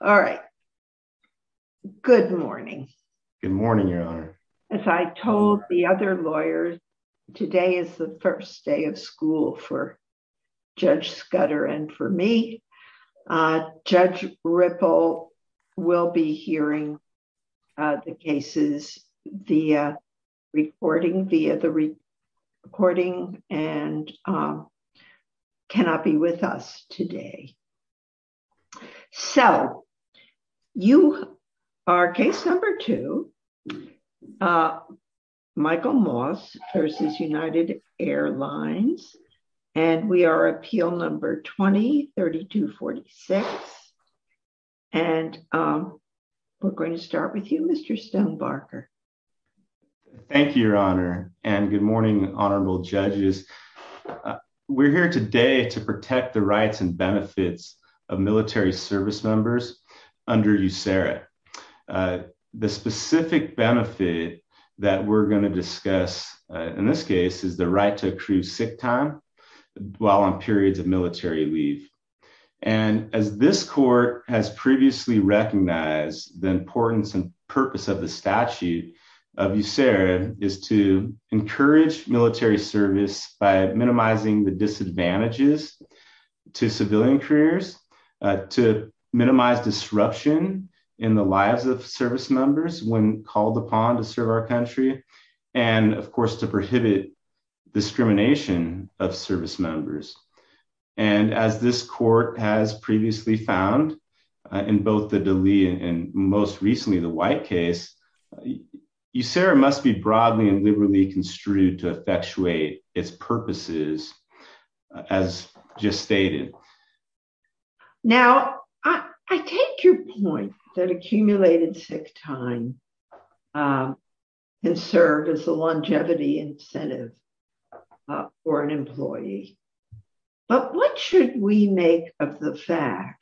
All right. Good morning. Good morning, Your Honor. As I told the other lawyers, today is the first day of school for Judge Scudder and for me. Judge Ripple will be hearing the cases via recording and cannot be with us today. So, you are case number two, Michael Moss v. United Airlines. And we are appeal number 20-3246. And we're going to start with you, Mr. Stonebarker. Thank you, Your Honor. And good morning, Your Honor. My name is Michael Moss. And I'm going to be talking about the rights and benefits of military service members under USERRA. The specific benefit that we're going to discuss, in this case, is the right to accrue sick time while on periods of military leave. And as this court has previously recognized, the importance and purpose of the statute of USERRA is to encourage military service by minimizing the disadvantages to civilian careers, to minimize disruption in the lives of service members when called upon to serve our country, and, of course, to prohibit discrimination of service members. And as this court has previously found, in both the to effectuate its purposes, as just stated. Now, I take your point that accumulated sick time can serve as a longevity incentive for an employee. But what should we make of the fact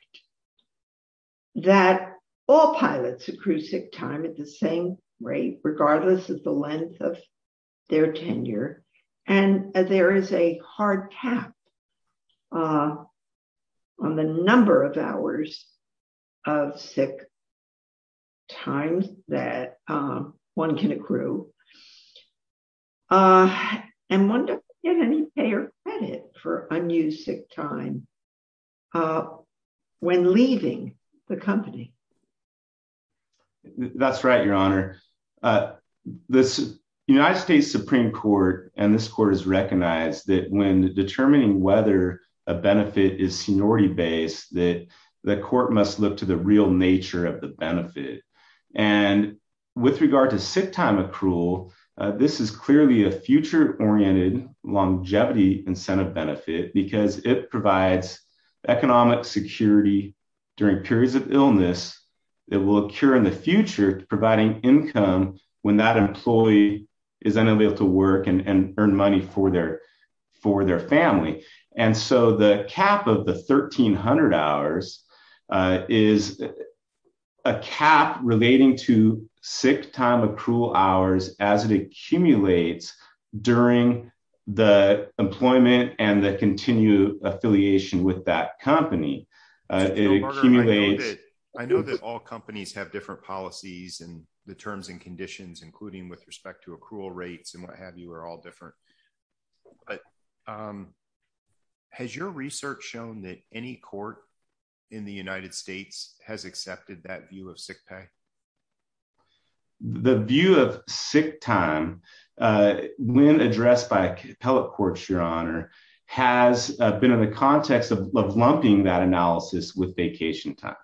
that all pilots accrue sick time at the same rate, regardless of the length of their tenure, and there is a hard cap on the number of hours of sick times that one can accrue. And one doesn't get any pay or credit for unused sick time when leaving the company. That's right, Your Honor. The United States Supreme Court and this court has recognized that when determining whether a benefit is seniority based, that the court must look to the real This is clearly a future-oriented longevity incentive benefit because it provides economic security during periods of illness that will occur in the future, providing income when that employee is unable to work and earn money for their family. And so the cap of the 1300 hours is a cap relating to sick time accrual hours as it accumulates during the employment and the continued affiliation with that company. I know that all companies have different policies and the terms and conditions, including with respect to accrual rates and what have you, are all the United States has accepted that view of sick pay? The view of sick time when addressed by appellate courts, Your Honor, has been in the context of lumping that analysis with vacation time.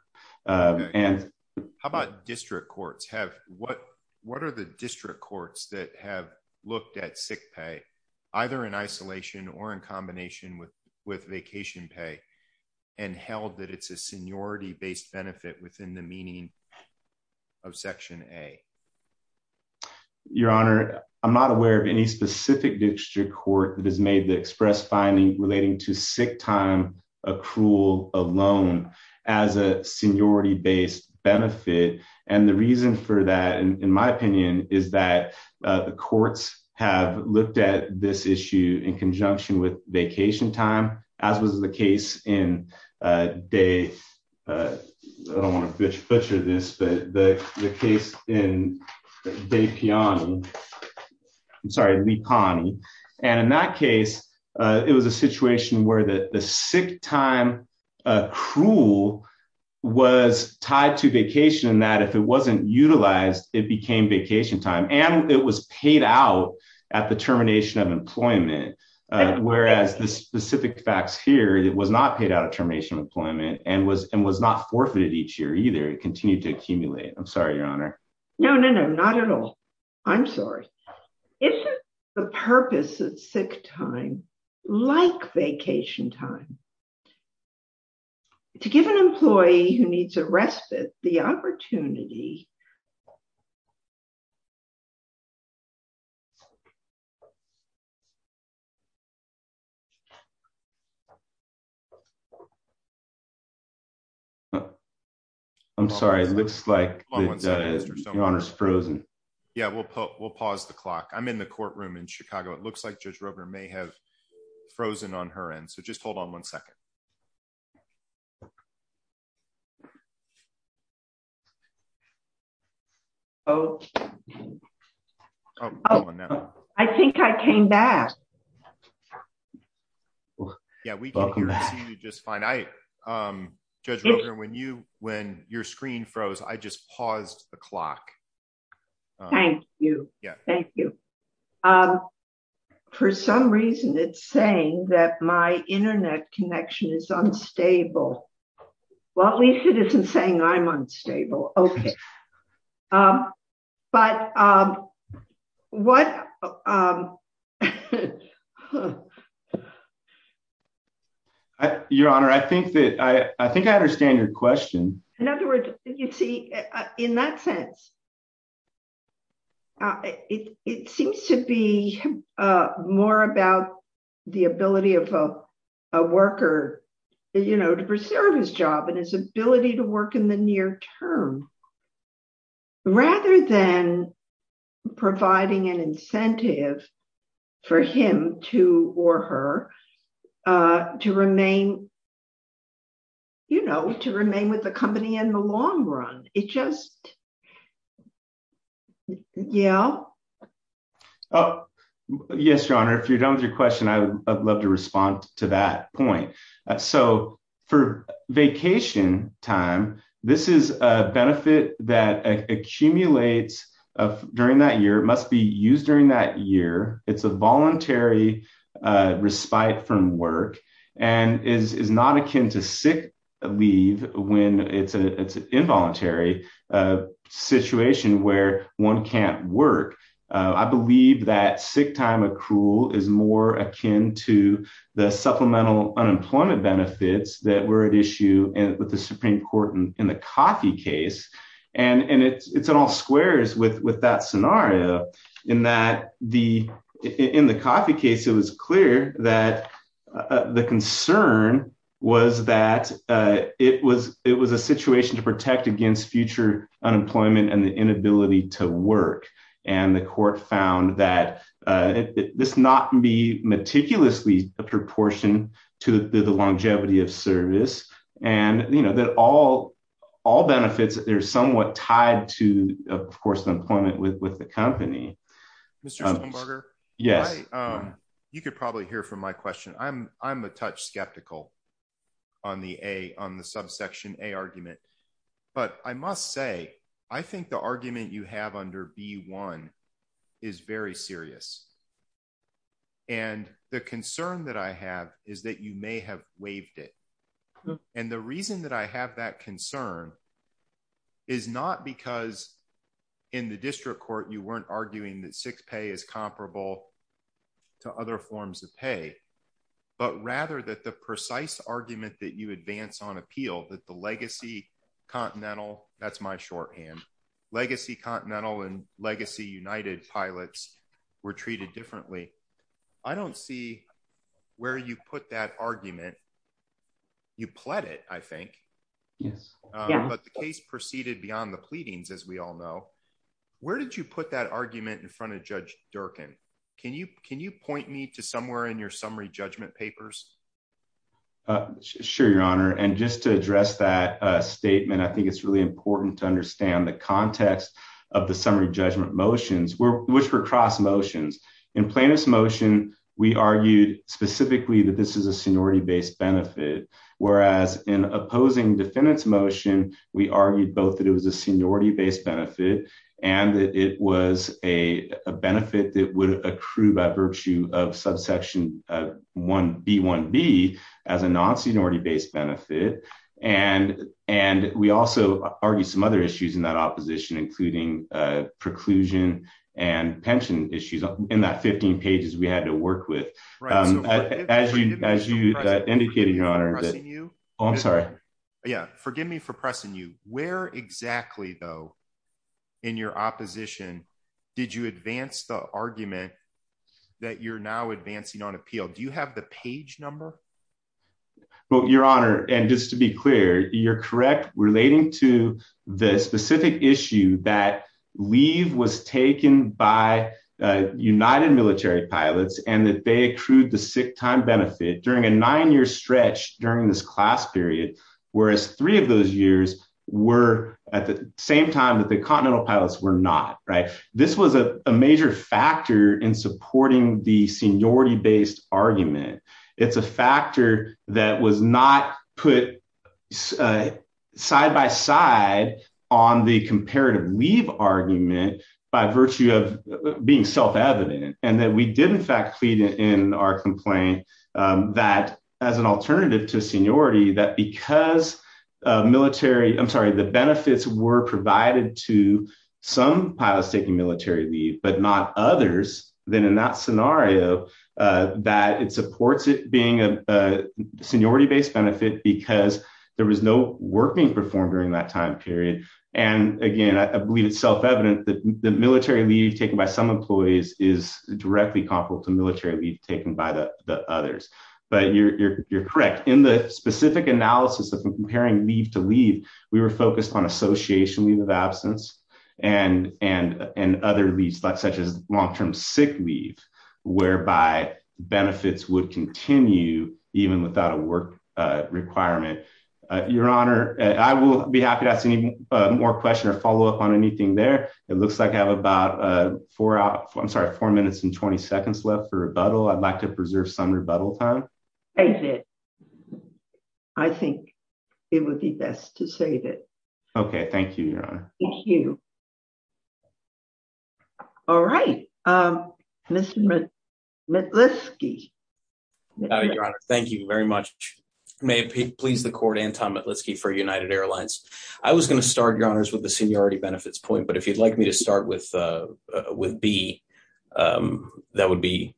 How about district courts? What are the district courts that have looked at sick pay, either in isolation or in combination with vacation pay and held that it's a seniority-based benefit within the meaning of Section A? Your Honor, I'm not aware of any specific district court that has made the express finding relating to sick time accrual alone as a seniority-based benefit. And the reason for that, in my opinion, is that the courts have looked at this issue in conjunction with vacation time, as was the case in, I don't want to butcher this, but the case in Vipiani, I'm sorry, Lipani. And in that case, it was a situation where the sick time accrual was tied to vacation, that if it wasn't utilized, it became vacation time. And it was paid out at the termination of employment. Whereas the specific facts here, it was not paid out of termination of employment and was not forfeited each year either. It continued to accumulate. I'm sorry, Your Honor. No, no, no, not at all. I'm sorry. Isn't the purpose of sick time like vacation time? To give an employee who needs a respite the opportunity... I'm sorry. It looks like Your Honor is frozen. Yeah, we'll pause the clock. I'm in the courtroom in Chicago. It looks like Judge Roper may have frozen on her end. So just hold on one second. Oh, I think I came back. Yeah, we can hear you just fine. Judge Roper, when your screen froze, I just paused the clock. Thank you. Thank you. For some reason, it's saying that my internet connection is unstable. Well, at least it isn't saying I'm unstable. Okay. But what... Your Honor, I think I understand your question. In other words, you see, in that sense, it seems to be more about the ability of a worker to preserve his job and his ability to work in near term, rather than providing an incentive for him to or her to remain, you know, to remain with the company in the long run. It just... Yeah. Oh, yes, Your Honor. If you're done with your question, I'd love to respond to that point. So for vacation time, this is a benefit that accumulates during that year, must be used during that year. It's a voluntary respite from work, and is not akin to sick leave when it's an involuntary situation where one can't work. I believe that sick time accrual is more akin to the supplemental unemployment benefits that were at issue with the Supreme Court in the Coffey case. And it's in all squares with that scenario, in that in the Coffey case, it was clear that the concern was that it was a situation to protect against future unemployment and the to the longevity of service. And, you know, that all benefits, they're somewhat tied to, of course, the employment with the company. You could probably hear from my question. I'm a touch skeptical on the subsection A argument. But I must say, I think the argument you have under B-1 is very serious. And the concern that I have is that you may have waived it. And the reason that I have that concern is not because in the district court, you weren't arguing that six pay is comparable to other forms of pay, but rather that the precise argument that you advance on appeal that the legacy Continental, that's my shorthand, legacy Continental and legacy United pilots were treated differently. I don't see where you put that argument. You pled it, I think. Yes. But the case proceeded beyond the pleadings, as we all know, where did you put that argument in front of Judge Durkin? Can you can you point me to somewhere in your summary judgment papers? Sure, Your Honor. And just to address that statement, I think it's really important to understand the context of the summary judgment motions, which were cross motions. In plaintiff's motion, we argued specifically that this is a seniority based benefit. Whereas in opposing defendant's motion, we argued both that it was a seniority based benefit, and that it was a benefit that would accrue by virtue of subsection B-1B as a non-seniority benefit. And, and we also argued some other issues in that opposition, including preclusion and pension issues in that 15 pages we had to work with. As you, as you indicated, Your Honor, I'm sorry. Yeah, forgive me for pressing you where exactly though, in your opposition, did you advance the argument that you're now advancing on appeal? Do you have the And just to be clear, you're correct relating to the specific issue that leave was taken by United Military Pilots and that they accrued the sick time benefit during a nine year stretch during this class period, whereas three of those years were at the same time that the Continental Pilots were not right. This was a major factor in supporting the seniority based argument. It's a factor that was not put side by side on the comparative leave argument by virtue of being self-evident, and that we did in fact plead in our complaint that as an alternative to seniority, that because military, I'm sorry, the benefits were provided to some pilots taking military leave, but not others, then in that scenario, that it supports it being a seniority based benefit because there was no work being performed during that time period. And again, I believe it's self-evident that the military leave taken by some employees is directly comparable to military leave taken by the others. But you're correct. In the specific analysis of comparing leave to leave, we were focused on association leave of absence and other leaves such as long-term sick leave, whereby benefits would continue even without a work requirement. Your Honor, I will be happy to ask any more questions or follow up on anything there. It looks like I have about four, I'm sorry, four minutes and 20 seconds left for rebuttal. I'd like to preserve some rebuttal time. I did. I think it would be best to save it. Okay. Thank you, Your Honor. Thank you. All right. Mr. Metlisky. Your Honor, thank you very much. May it please the court, Anton Metlisky for United Airlines. I was going to start, Your Honors, with the seniority benefits point, if you'd like me to start with B, that would be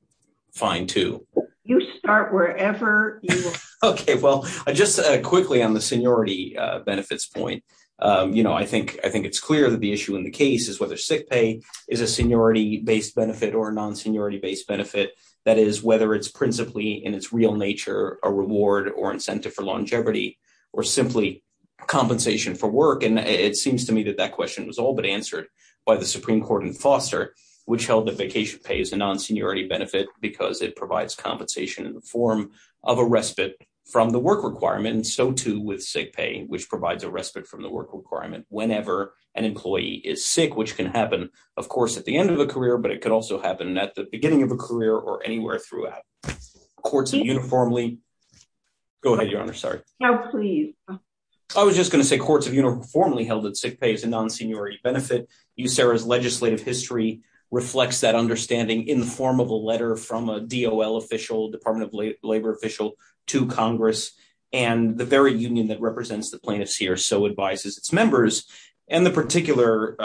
fine too. You start wherever you want. Okay. Well, just quickly on the seniority benefits point. I think it's clear that the issue in the case is whether sick pay is a seniority-based benefit or a non-seniority-based benefit. That is whether it's principally in its real nature a reward or incentive for longevity or simply compensation for work. It seems to me that that question was all but answered by the Supreme Court in Foster, which held that vacation pay is a non-seniority benefit because it provides compensation in the form of a respite from the work requirement and so too with sick pay, which provides a respite from the work requirement whenever an employee is sick, which can happen, of course, at the end of a career, but it could also happen at the beginning of a career or anywhere throughout. Courts have uniformly... Go ahead, Your Honor. Sorry. No, please. I was just going to say courts have uniformly held that sick pay is a non-seniority benefit. USERRA's legislative history reflects that understanding in the form of a letter from a DOL official, Department of Labor official, to Congress and the very union that represents the plaintiffs here so advises its members and the particulars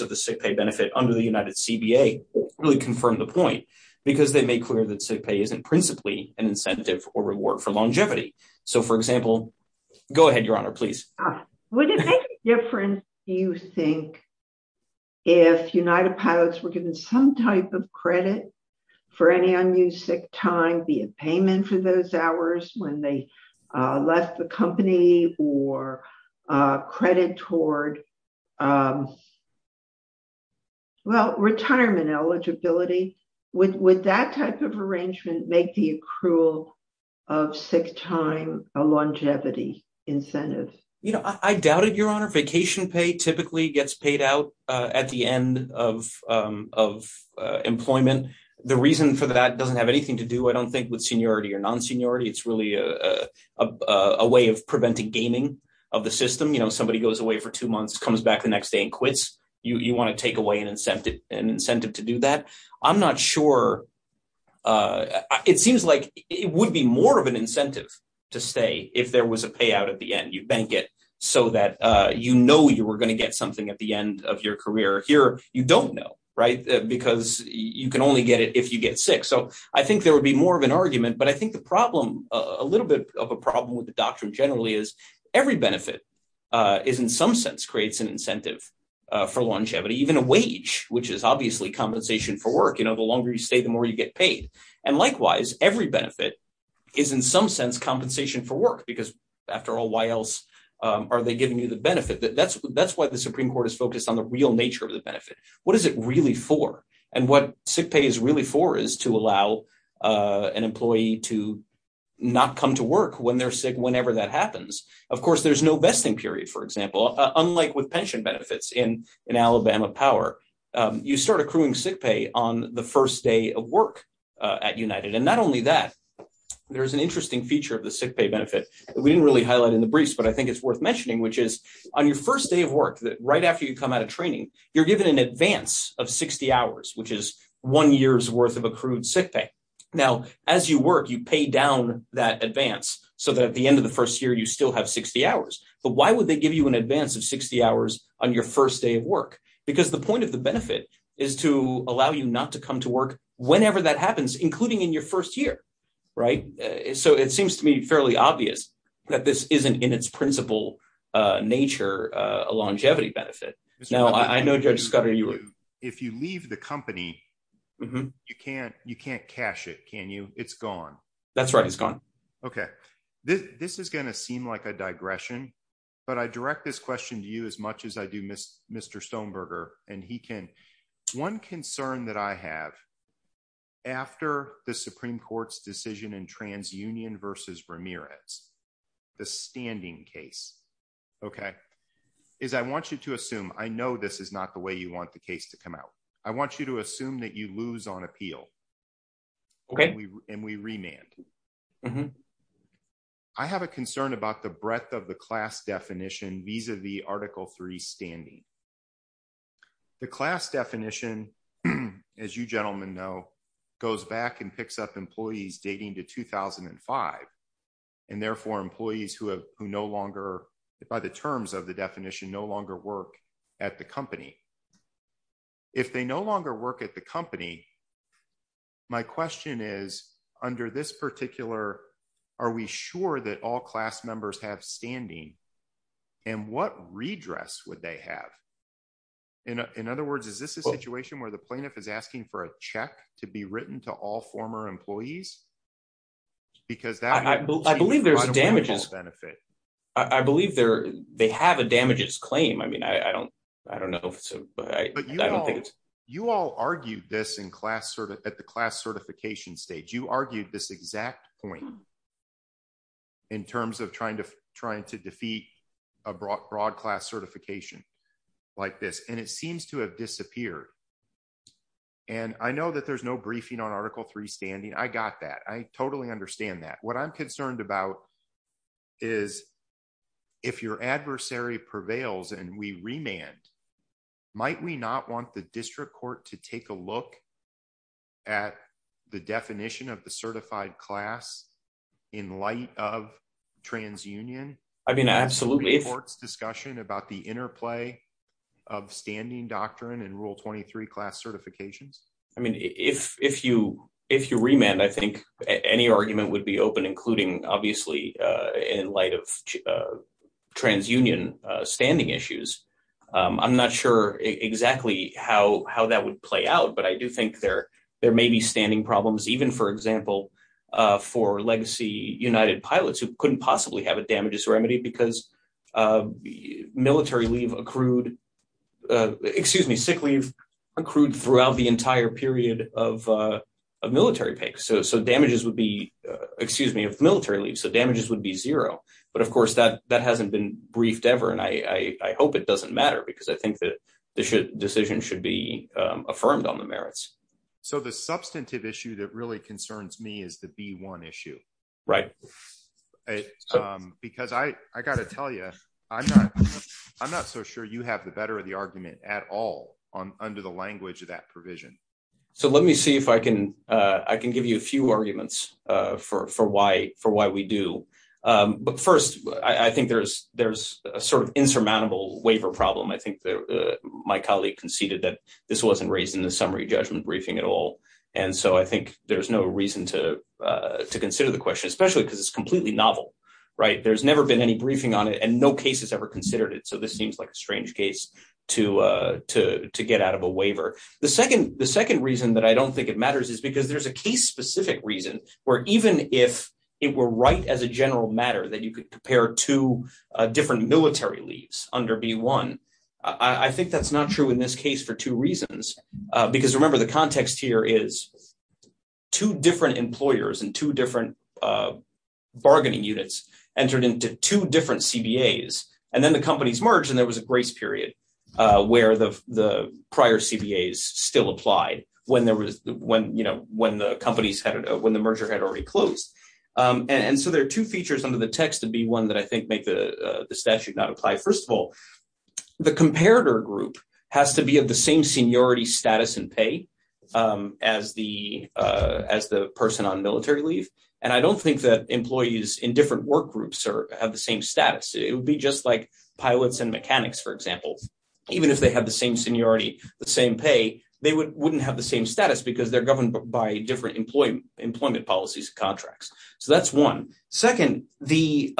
of the sick pay benefit under the United CBA really confirm the point because they make clear that sick pay isn't principally an incentive or reward for longevity. So, for example... Go ahead, Your Honor, please. Would it make a difference, do you think, if United Pilots were given some type of credit for any unused sick time, be it payment for those hours when they left the company or credit toward retirement eligibility? Would that type of arrangement make the accrual of sick time a longevity incentive? I doubt it, Your Honor. Vacation pay typically gets paid out at the end of employment. The reason for that doesn't have anything to do, I don't think, with seniority or non-seniority. It's really a way of preventing gaming of the system. Somebody goes away for an incentive to do that. I'm not sure. It seems like it would be more of an incentive to stay if there was a payout at the end. You bank it so that you know you were going to get something at the end of your career. Here, you don't know, right, because you can only get it if you get sick. So, I think there would be more of an argument, but I think the problem, a little bit of a problem with the doctrine generally, is every benefit is in some sense creates an incentive for longevity. Even a wage, which is obviously compensation for work, the longer you stay, the more you get paid. And likewise, every benefit is in some sense compensation for work, because after all, why else are they giving you the benefit? That's why the Supreme Court is focused on the real nature of the benefit. What is it really for? And what sick pay is really for is to allow an employee to not come to work when they're sick whenever that happens. Of course, there's no benefits in Alabama power. You start accruing sick pay on the first day of work at United. And not only that, there's an interesting feature of the sick pay benefit. We didn't really highlight in the briefs, but I think it's worth mentioning, which is on your first day of work, right after you come out of training, you're given an advance of 60 hours, which is one year's worth of accrued sick pay. Now, as you work, you pay down that advance so that at the end of the first year, you still have 60 hours. But why would they give you an advance of 60 hours on your first day of work? Because the point of the benefit is to allow you not to come to work whenever that happens, including in your first year, right? So it seems to me fairly obvious that this isn't in its principal nature, a longevity benefit. Now, I know, Judge Scudder, if you leave the company, you can't cash it, can you? It's gone. That's right. It's gone. Okay. This is going to seem like a digression. But I direct this question to you as much as I do Mr. Stoneberger. One concern that I have after the Supreme Court's decision in TransUnion versus Ramirez, the standing case, okay, is I want you to assume, I know this is not the way you want the case to come out. I want you to assume that you lose on appeal and we remand. I have a concern about the breadth of the class definition vis-a-vis Article 3 standing. The class definition, as you gentlemen know, goes back and picks up employees dating to 2005 and therefore employees who no longer, by the terms of the definition, no longer work at the company. If they no longer work at the company, my question is, under this particular are we sure that all class members have standing and what redress would they have? In other words, is this a situation where the plaintiff is asking for a check to be written to all former employees? I believe there's damages. I believe they have a damages claim. I mean, I don't know. But you all argued this at the class certification stage. You argued this point in terms of trying to defeat a broad class certification like this. And it seems to have disappeared. And I know that there's no briefing on Article 3 standing. I got that. I totally understand that. What I'm concerned about is if your adversary prevails and we remand, might we not want the district court to take a look at the definition of the certified class in light of transunion? I mean, absolutely. The court's discussion about the interplay of standing doctrine and Rule 23 class certifications? I mean, if you remand, I think any argument would be open, including obviously in light of transunion standing issues. I'm not sure exactly how that would play out. But I do think there may be standing problems, even, for example, for legacy United pilots who couldn't possibly have a damages remedy because military leave accrued, excuse me, sick leave accrued throughout the entire period of military pay. So damages would be, excuse me, of military leave. So that hasn't been briefed ever. And I hope it doesn't matter because I think that the decision should be affirmed on the merits. So the substantive issue that really concerns me is the B1 issue. Right. Because I got to tell you, I'm not so sure you have the better of the argument at all under the language of that provision. So let me see if I can give you a few arguments for why we do. But first, I think there's a sort of insurmountable waiver problem. I think my colleague conceded that this wasn't raised in the summary judgment briefing at all. And so I think there's no reason to consider the question, especially because it's completely novel. Right. There's never been any briefing on it and no case has ever considered it. So this seems like a strange case to get out of a waiver. The second reason that I don't think it matters is because there's a case-specific reason where even if it were right as a general matter that you could compare two different military leaves under B1, I think that's not true in this case for two reasons. Because remember, the context here is two different employers and two different bargaining units entered into two different CBAs. And then the companies merged and there was a grace period where the prior CBAs still applied when the merger had already closed. And so there are two features under the text to B1 that I think make the statute not apply. First of all, the comparator group has to be of the same seniority status and pay as the person on military leave. And I don't think that employees in different work groups have the same status. It would be just like pilots and mechanics, for example. Even if they have the same seniority, the same pay, they wouldn't have the same status because they're governed by different employment policies and contracts. So that's one. Second, the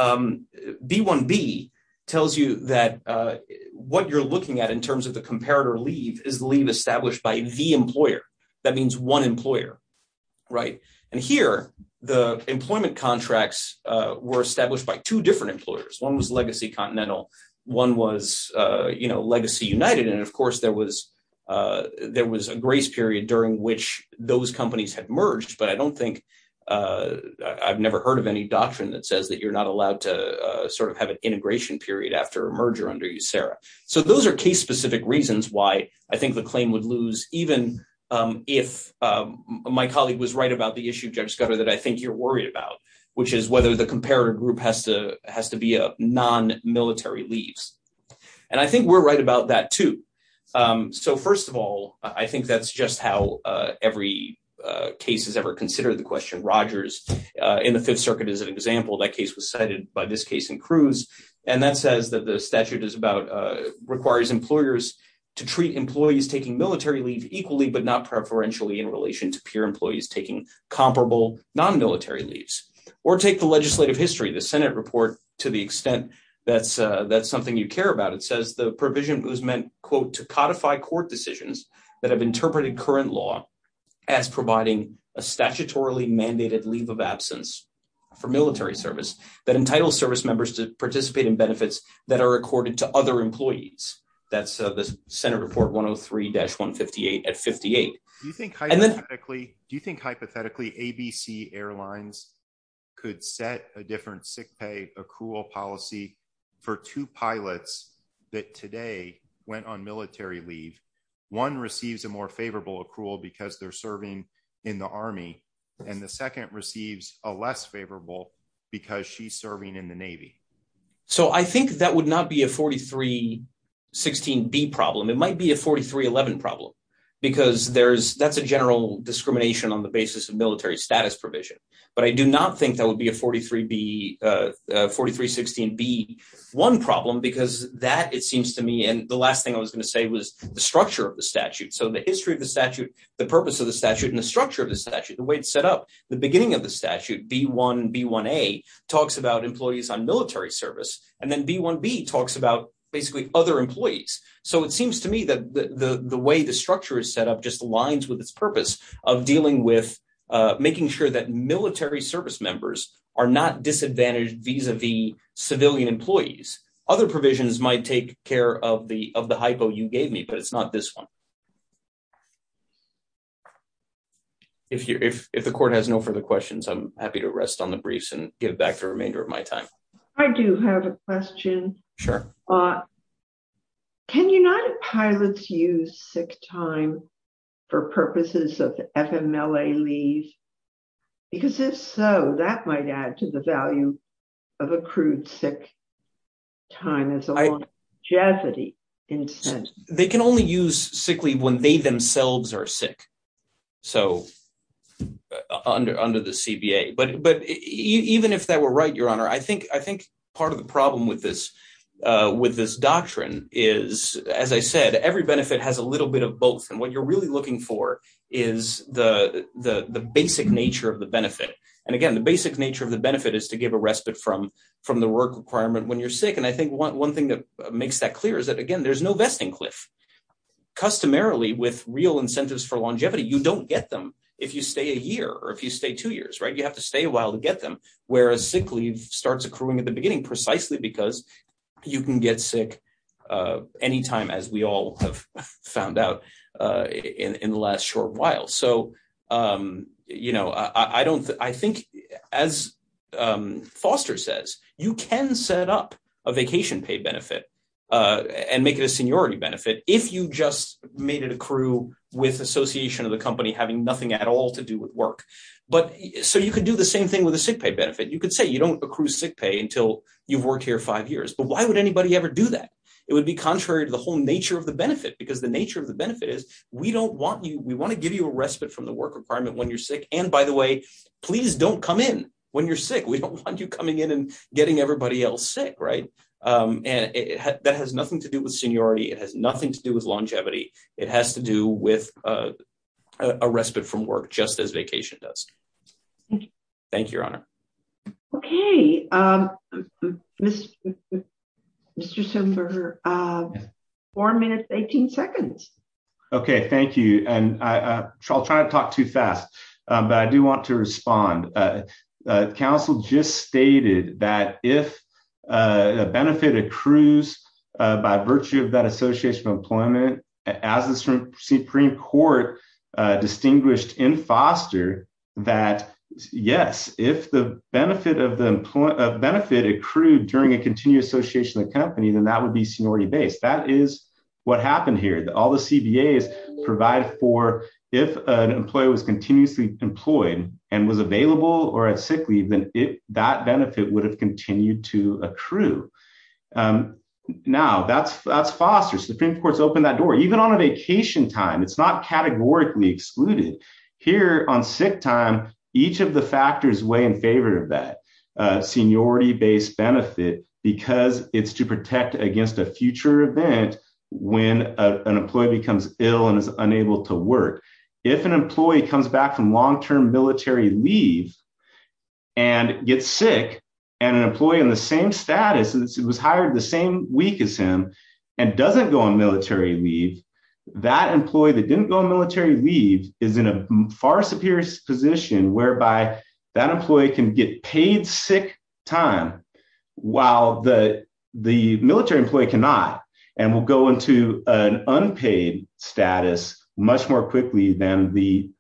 B1B tells you that what you're looking at in terms of the comparator leave is leave established by the employer. That means one employer. Right. And here, the employment contracts were established by two different employers. One was Legacy Continental. One was Legacy United. And of course, there was a grace period during which those companies had merged. But I've never heard of any doctrine that says that you're not allowed to sort of have an integration period after a merger under USERRA. So those are case-specific reasons why I think the claim would lose even if my colleague was right about the issue, Judge Scudder, that I think you're worried about, which is whether the comparator group has to be of non-military leaves. And I think we're right about that, too. So first of all, I think that's just how every case has ever considered the question. Rogers in the Fifth Circuit is an example. That says that the statute requires employers to treat employees taking military leave equally, but not preferentially, in relation to peer employees taking comparable non-military leaves. Or take the legislative history, the Senate report, to the extent that's something you care about. It says the provision was meant, quote, to codify court decisions that have interpreted current law as providing a statutorily mandated leave of absence for military service that entitles service members to participate in benefits that are accorded to other employees. That's the Senate report 103-158 at 58. Do you think hypothetically ABC Airlines could set a different sick pay accrual policy for two pilots that today went on military leave? One receives a more favorable accrual because they're serving in the Army, and the second receives a less favorable because she's serving in the Navy. So I think that would not be a 43-16-B problem. It might be a 43-11 problem, because that's a general discrimination on the basis of military status provision. But I do not think that would be a 43-16-B-1 problem, because that, it seems to me, and the last thing I was going to say was the structure of the statute. So the history of the statute, the purpose of the statute, and the structure of the statute, the way it's set up, the beginning of the statute, B-1, B-1A, talks about employees on military service, and then B-1B talks about basically other employees. So it seems to me that the way the structure is set up just aligns with its purpose of dealing with making sure that military service members are not disadvantaged vis-a-vis civilian employees. Other provisions might take of the hypo you gave me, but it's not this one. If the court has no further questions, I'm happy to rest on the briefs and give back the remainder of my time. I do have a question. Sure. Can United Pilots use sick time for purposes of FMLA leave? Because if so, that might add to the value of accrued sick time as a longevity incentive. They can only use sick leave when they themselves are sick, so under the CBA. But even if that were right, Your Honor, I think part of the problem with this doctrine is, as I said, every benefit has a little bit of both. And what you're really looking for is the basic nature of the benefit. And again, the basic nature of the benefit is to give a respite from the work requirement when you're sick. And I think one thing that makes that clear is that, again, there's no vesting cliff. Customarily, with real incentives for longevity, you don't get them if you stay a year or if you stay two years, right? You have to stay a while to get them, whereas sick leave starts accruing at the beginning precisely because you can get sick anytime, as we all have found out in the last short while. So I think, as Foster says, you can set up a vacation pay benefit and make it a seniority benefit if you just made it accrue with association of the company having nothing at all to do with work. So you could do the same thing with a sick pay benefit. You could say you don't accrue sick pay until you've worked here five years, but why would anybody ever do that? It would be contrary to the whole nature of the benefit because the nature of benefit is we want to give you a respite from the work requirement when you're sick. And by the way, please don't come in when you're sick. We don't want you coming in and getting everybody else sick, right? And that has nothing to do with seniority. It has nothing to do with longevity. It has to do with a respite from work, just as vacation does. Thank you, Your Honor. Okay. Mr. Simberger, four minutes, 18 seconds. Okay. Thank you. And I'll try to talk too fast, but I do want to respond. Counsel just stated that if a benefit accrues by virtue of that benefit of the benefit accrued during a continued association of the company, then that would be seniority-based. That is what happened here. All the CBAs provide for if an employee was continuously employed and was available or at sick leave, then that benefit would have continued to accrue. Now that's foster. Supreme Court's opened that door. Even on a vacation time, it's not categorically excluded. Here on sick time, each of the factors weigh in that seniority-based benefit because it's to protect against a future event when an employee becomes ill and is unable to work. If an employee comes back from long-term military leave and gets sick and an employee in the same status and was hired the same week as him and doesn't go on military leave, that employee that didn't go on military leave is in a far superior position whereby that employee can get paid sick time while the military employee cannot and will go into an unpaid status much more quickly than the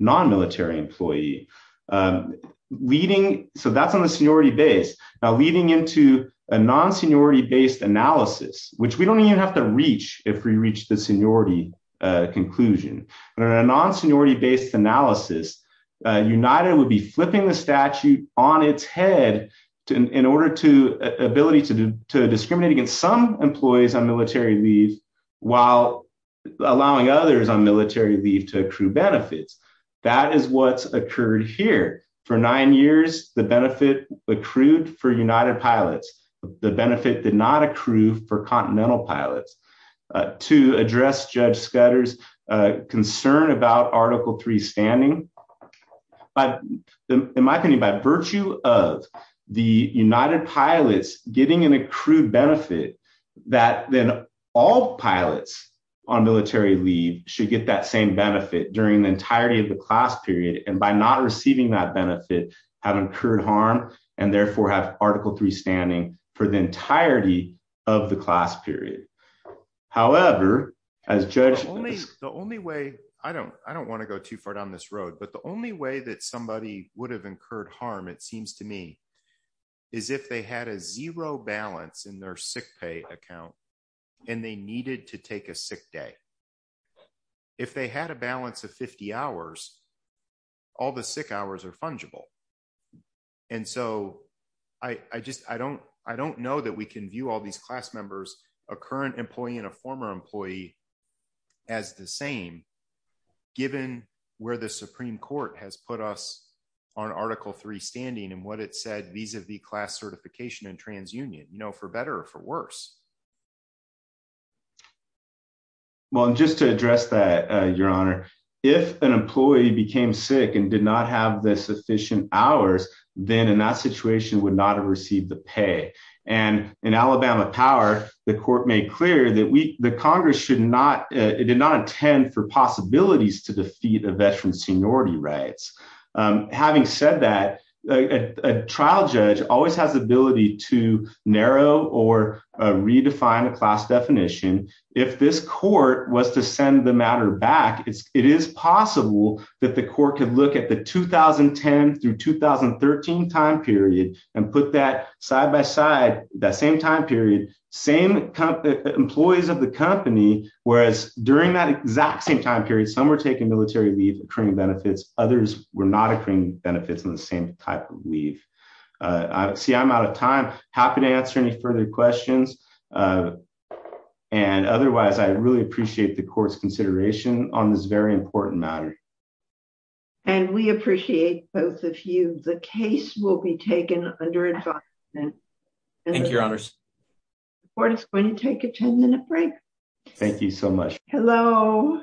non-military employee. That's on the seniority base. Now leading into a non-seniority-based analysis, which we don't even have to reach if we reach the seniority conclusion. In a non-seniority-based analysis, United would be flipping the statute on its head in order to ability to discriminate against some employees on military leave while allowing others on military leave to accrue benefits. That is what's occurred here. For nine years, the benefit accrued for United pilots. The benefit did not accrue for Continental pilots. To address Judge Scudder's concern about Article 3 standing, in my opinion, by virtue of the United pilots getting an accrued benefit that then all pilots on military leave should get that same benefit during the entirety of the class period and by not receiving that benefit have incurred harm and therefore have Article 3 standing for the entirety of the class period. However, as Judge- The only way, I don't want to go too far down this road, but the only way that somebody would have incurred harm, it seems to me, is if they had a zero balance in their sick pay account and they needed to take a sick day. If they had a balance of 50 hours, all the sick hours are these class members, a current employee and a former employee as the same, given where the Supreme Court has put us on Article 3 standing and what it said vis-a-vis class certification and transunion, for better or for worse. Well, just to address that, Your Honor, if an employee became sick and did not have the Alabama power, the court made clear that the Congress did not intend for possibilities to defeat a veteran's seniority rights. Having said that, a trial judge always has the ability to narrow or redefine a class definition. If this court was to send the matter back, it is possible that the court could look at the 2010 through 2013 time period and put that side by side, that same time period, same employees of the company, whereas during that exact same time period, some were taking military leave, accruing benefits, others were not accruing benefits on the same type of leave. See, I'm out of time. Happy to answer any further questions. And otherwise, I really appreciate the court's consideration on this very important matter. And we appreciate both of you. The case will be taken under advisement. Thank you, Your Honors. The court is going to take a 10-minute break. Thank you so much. Hello.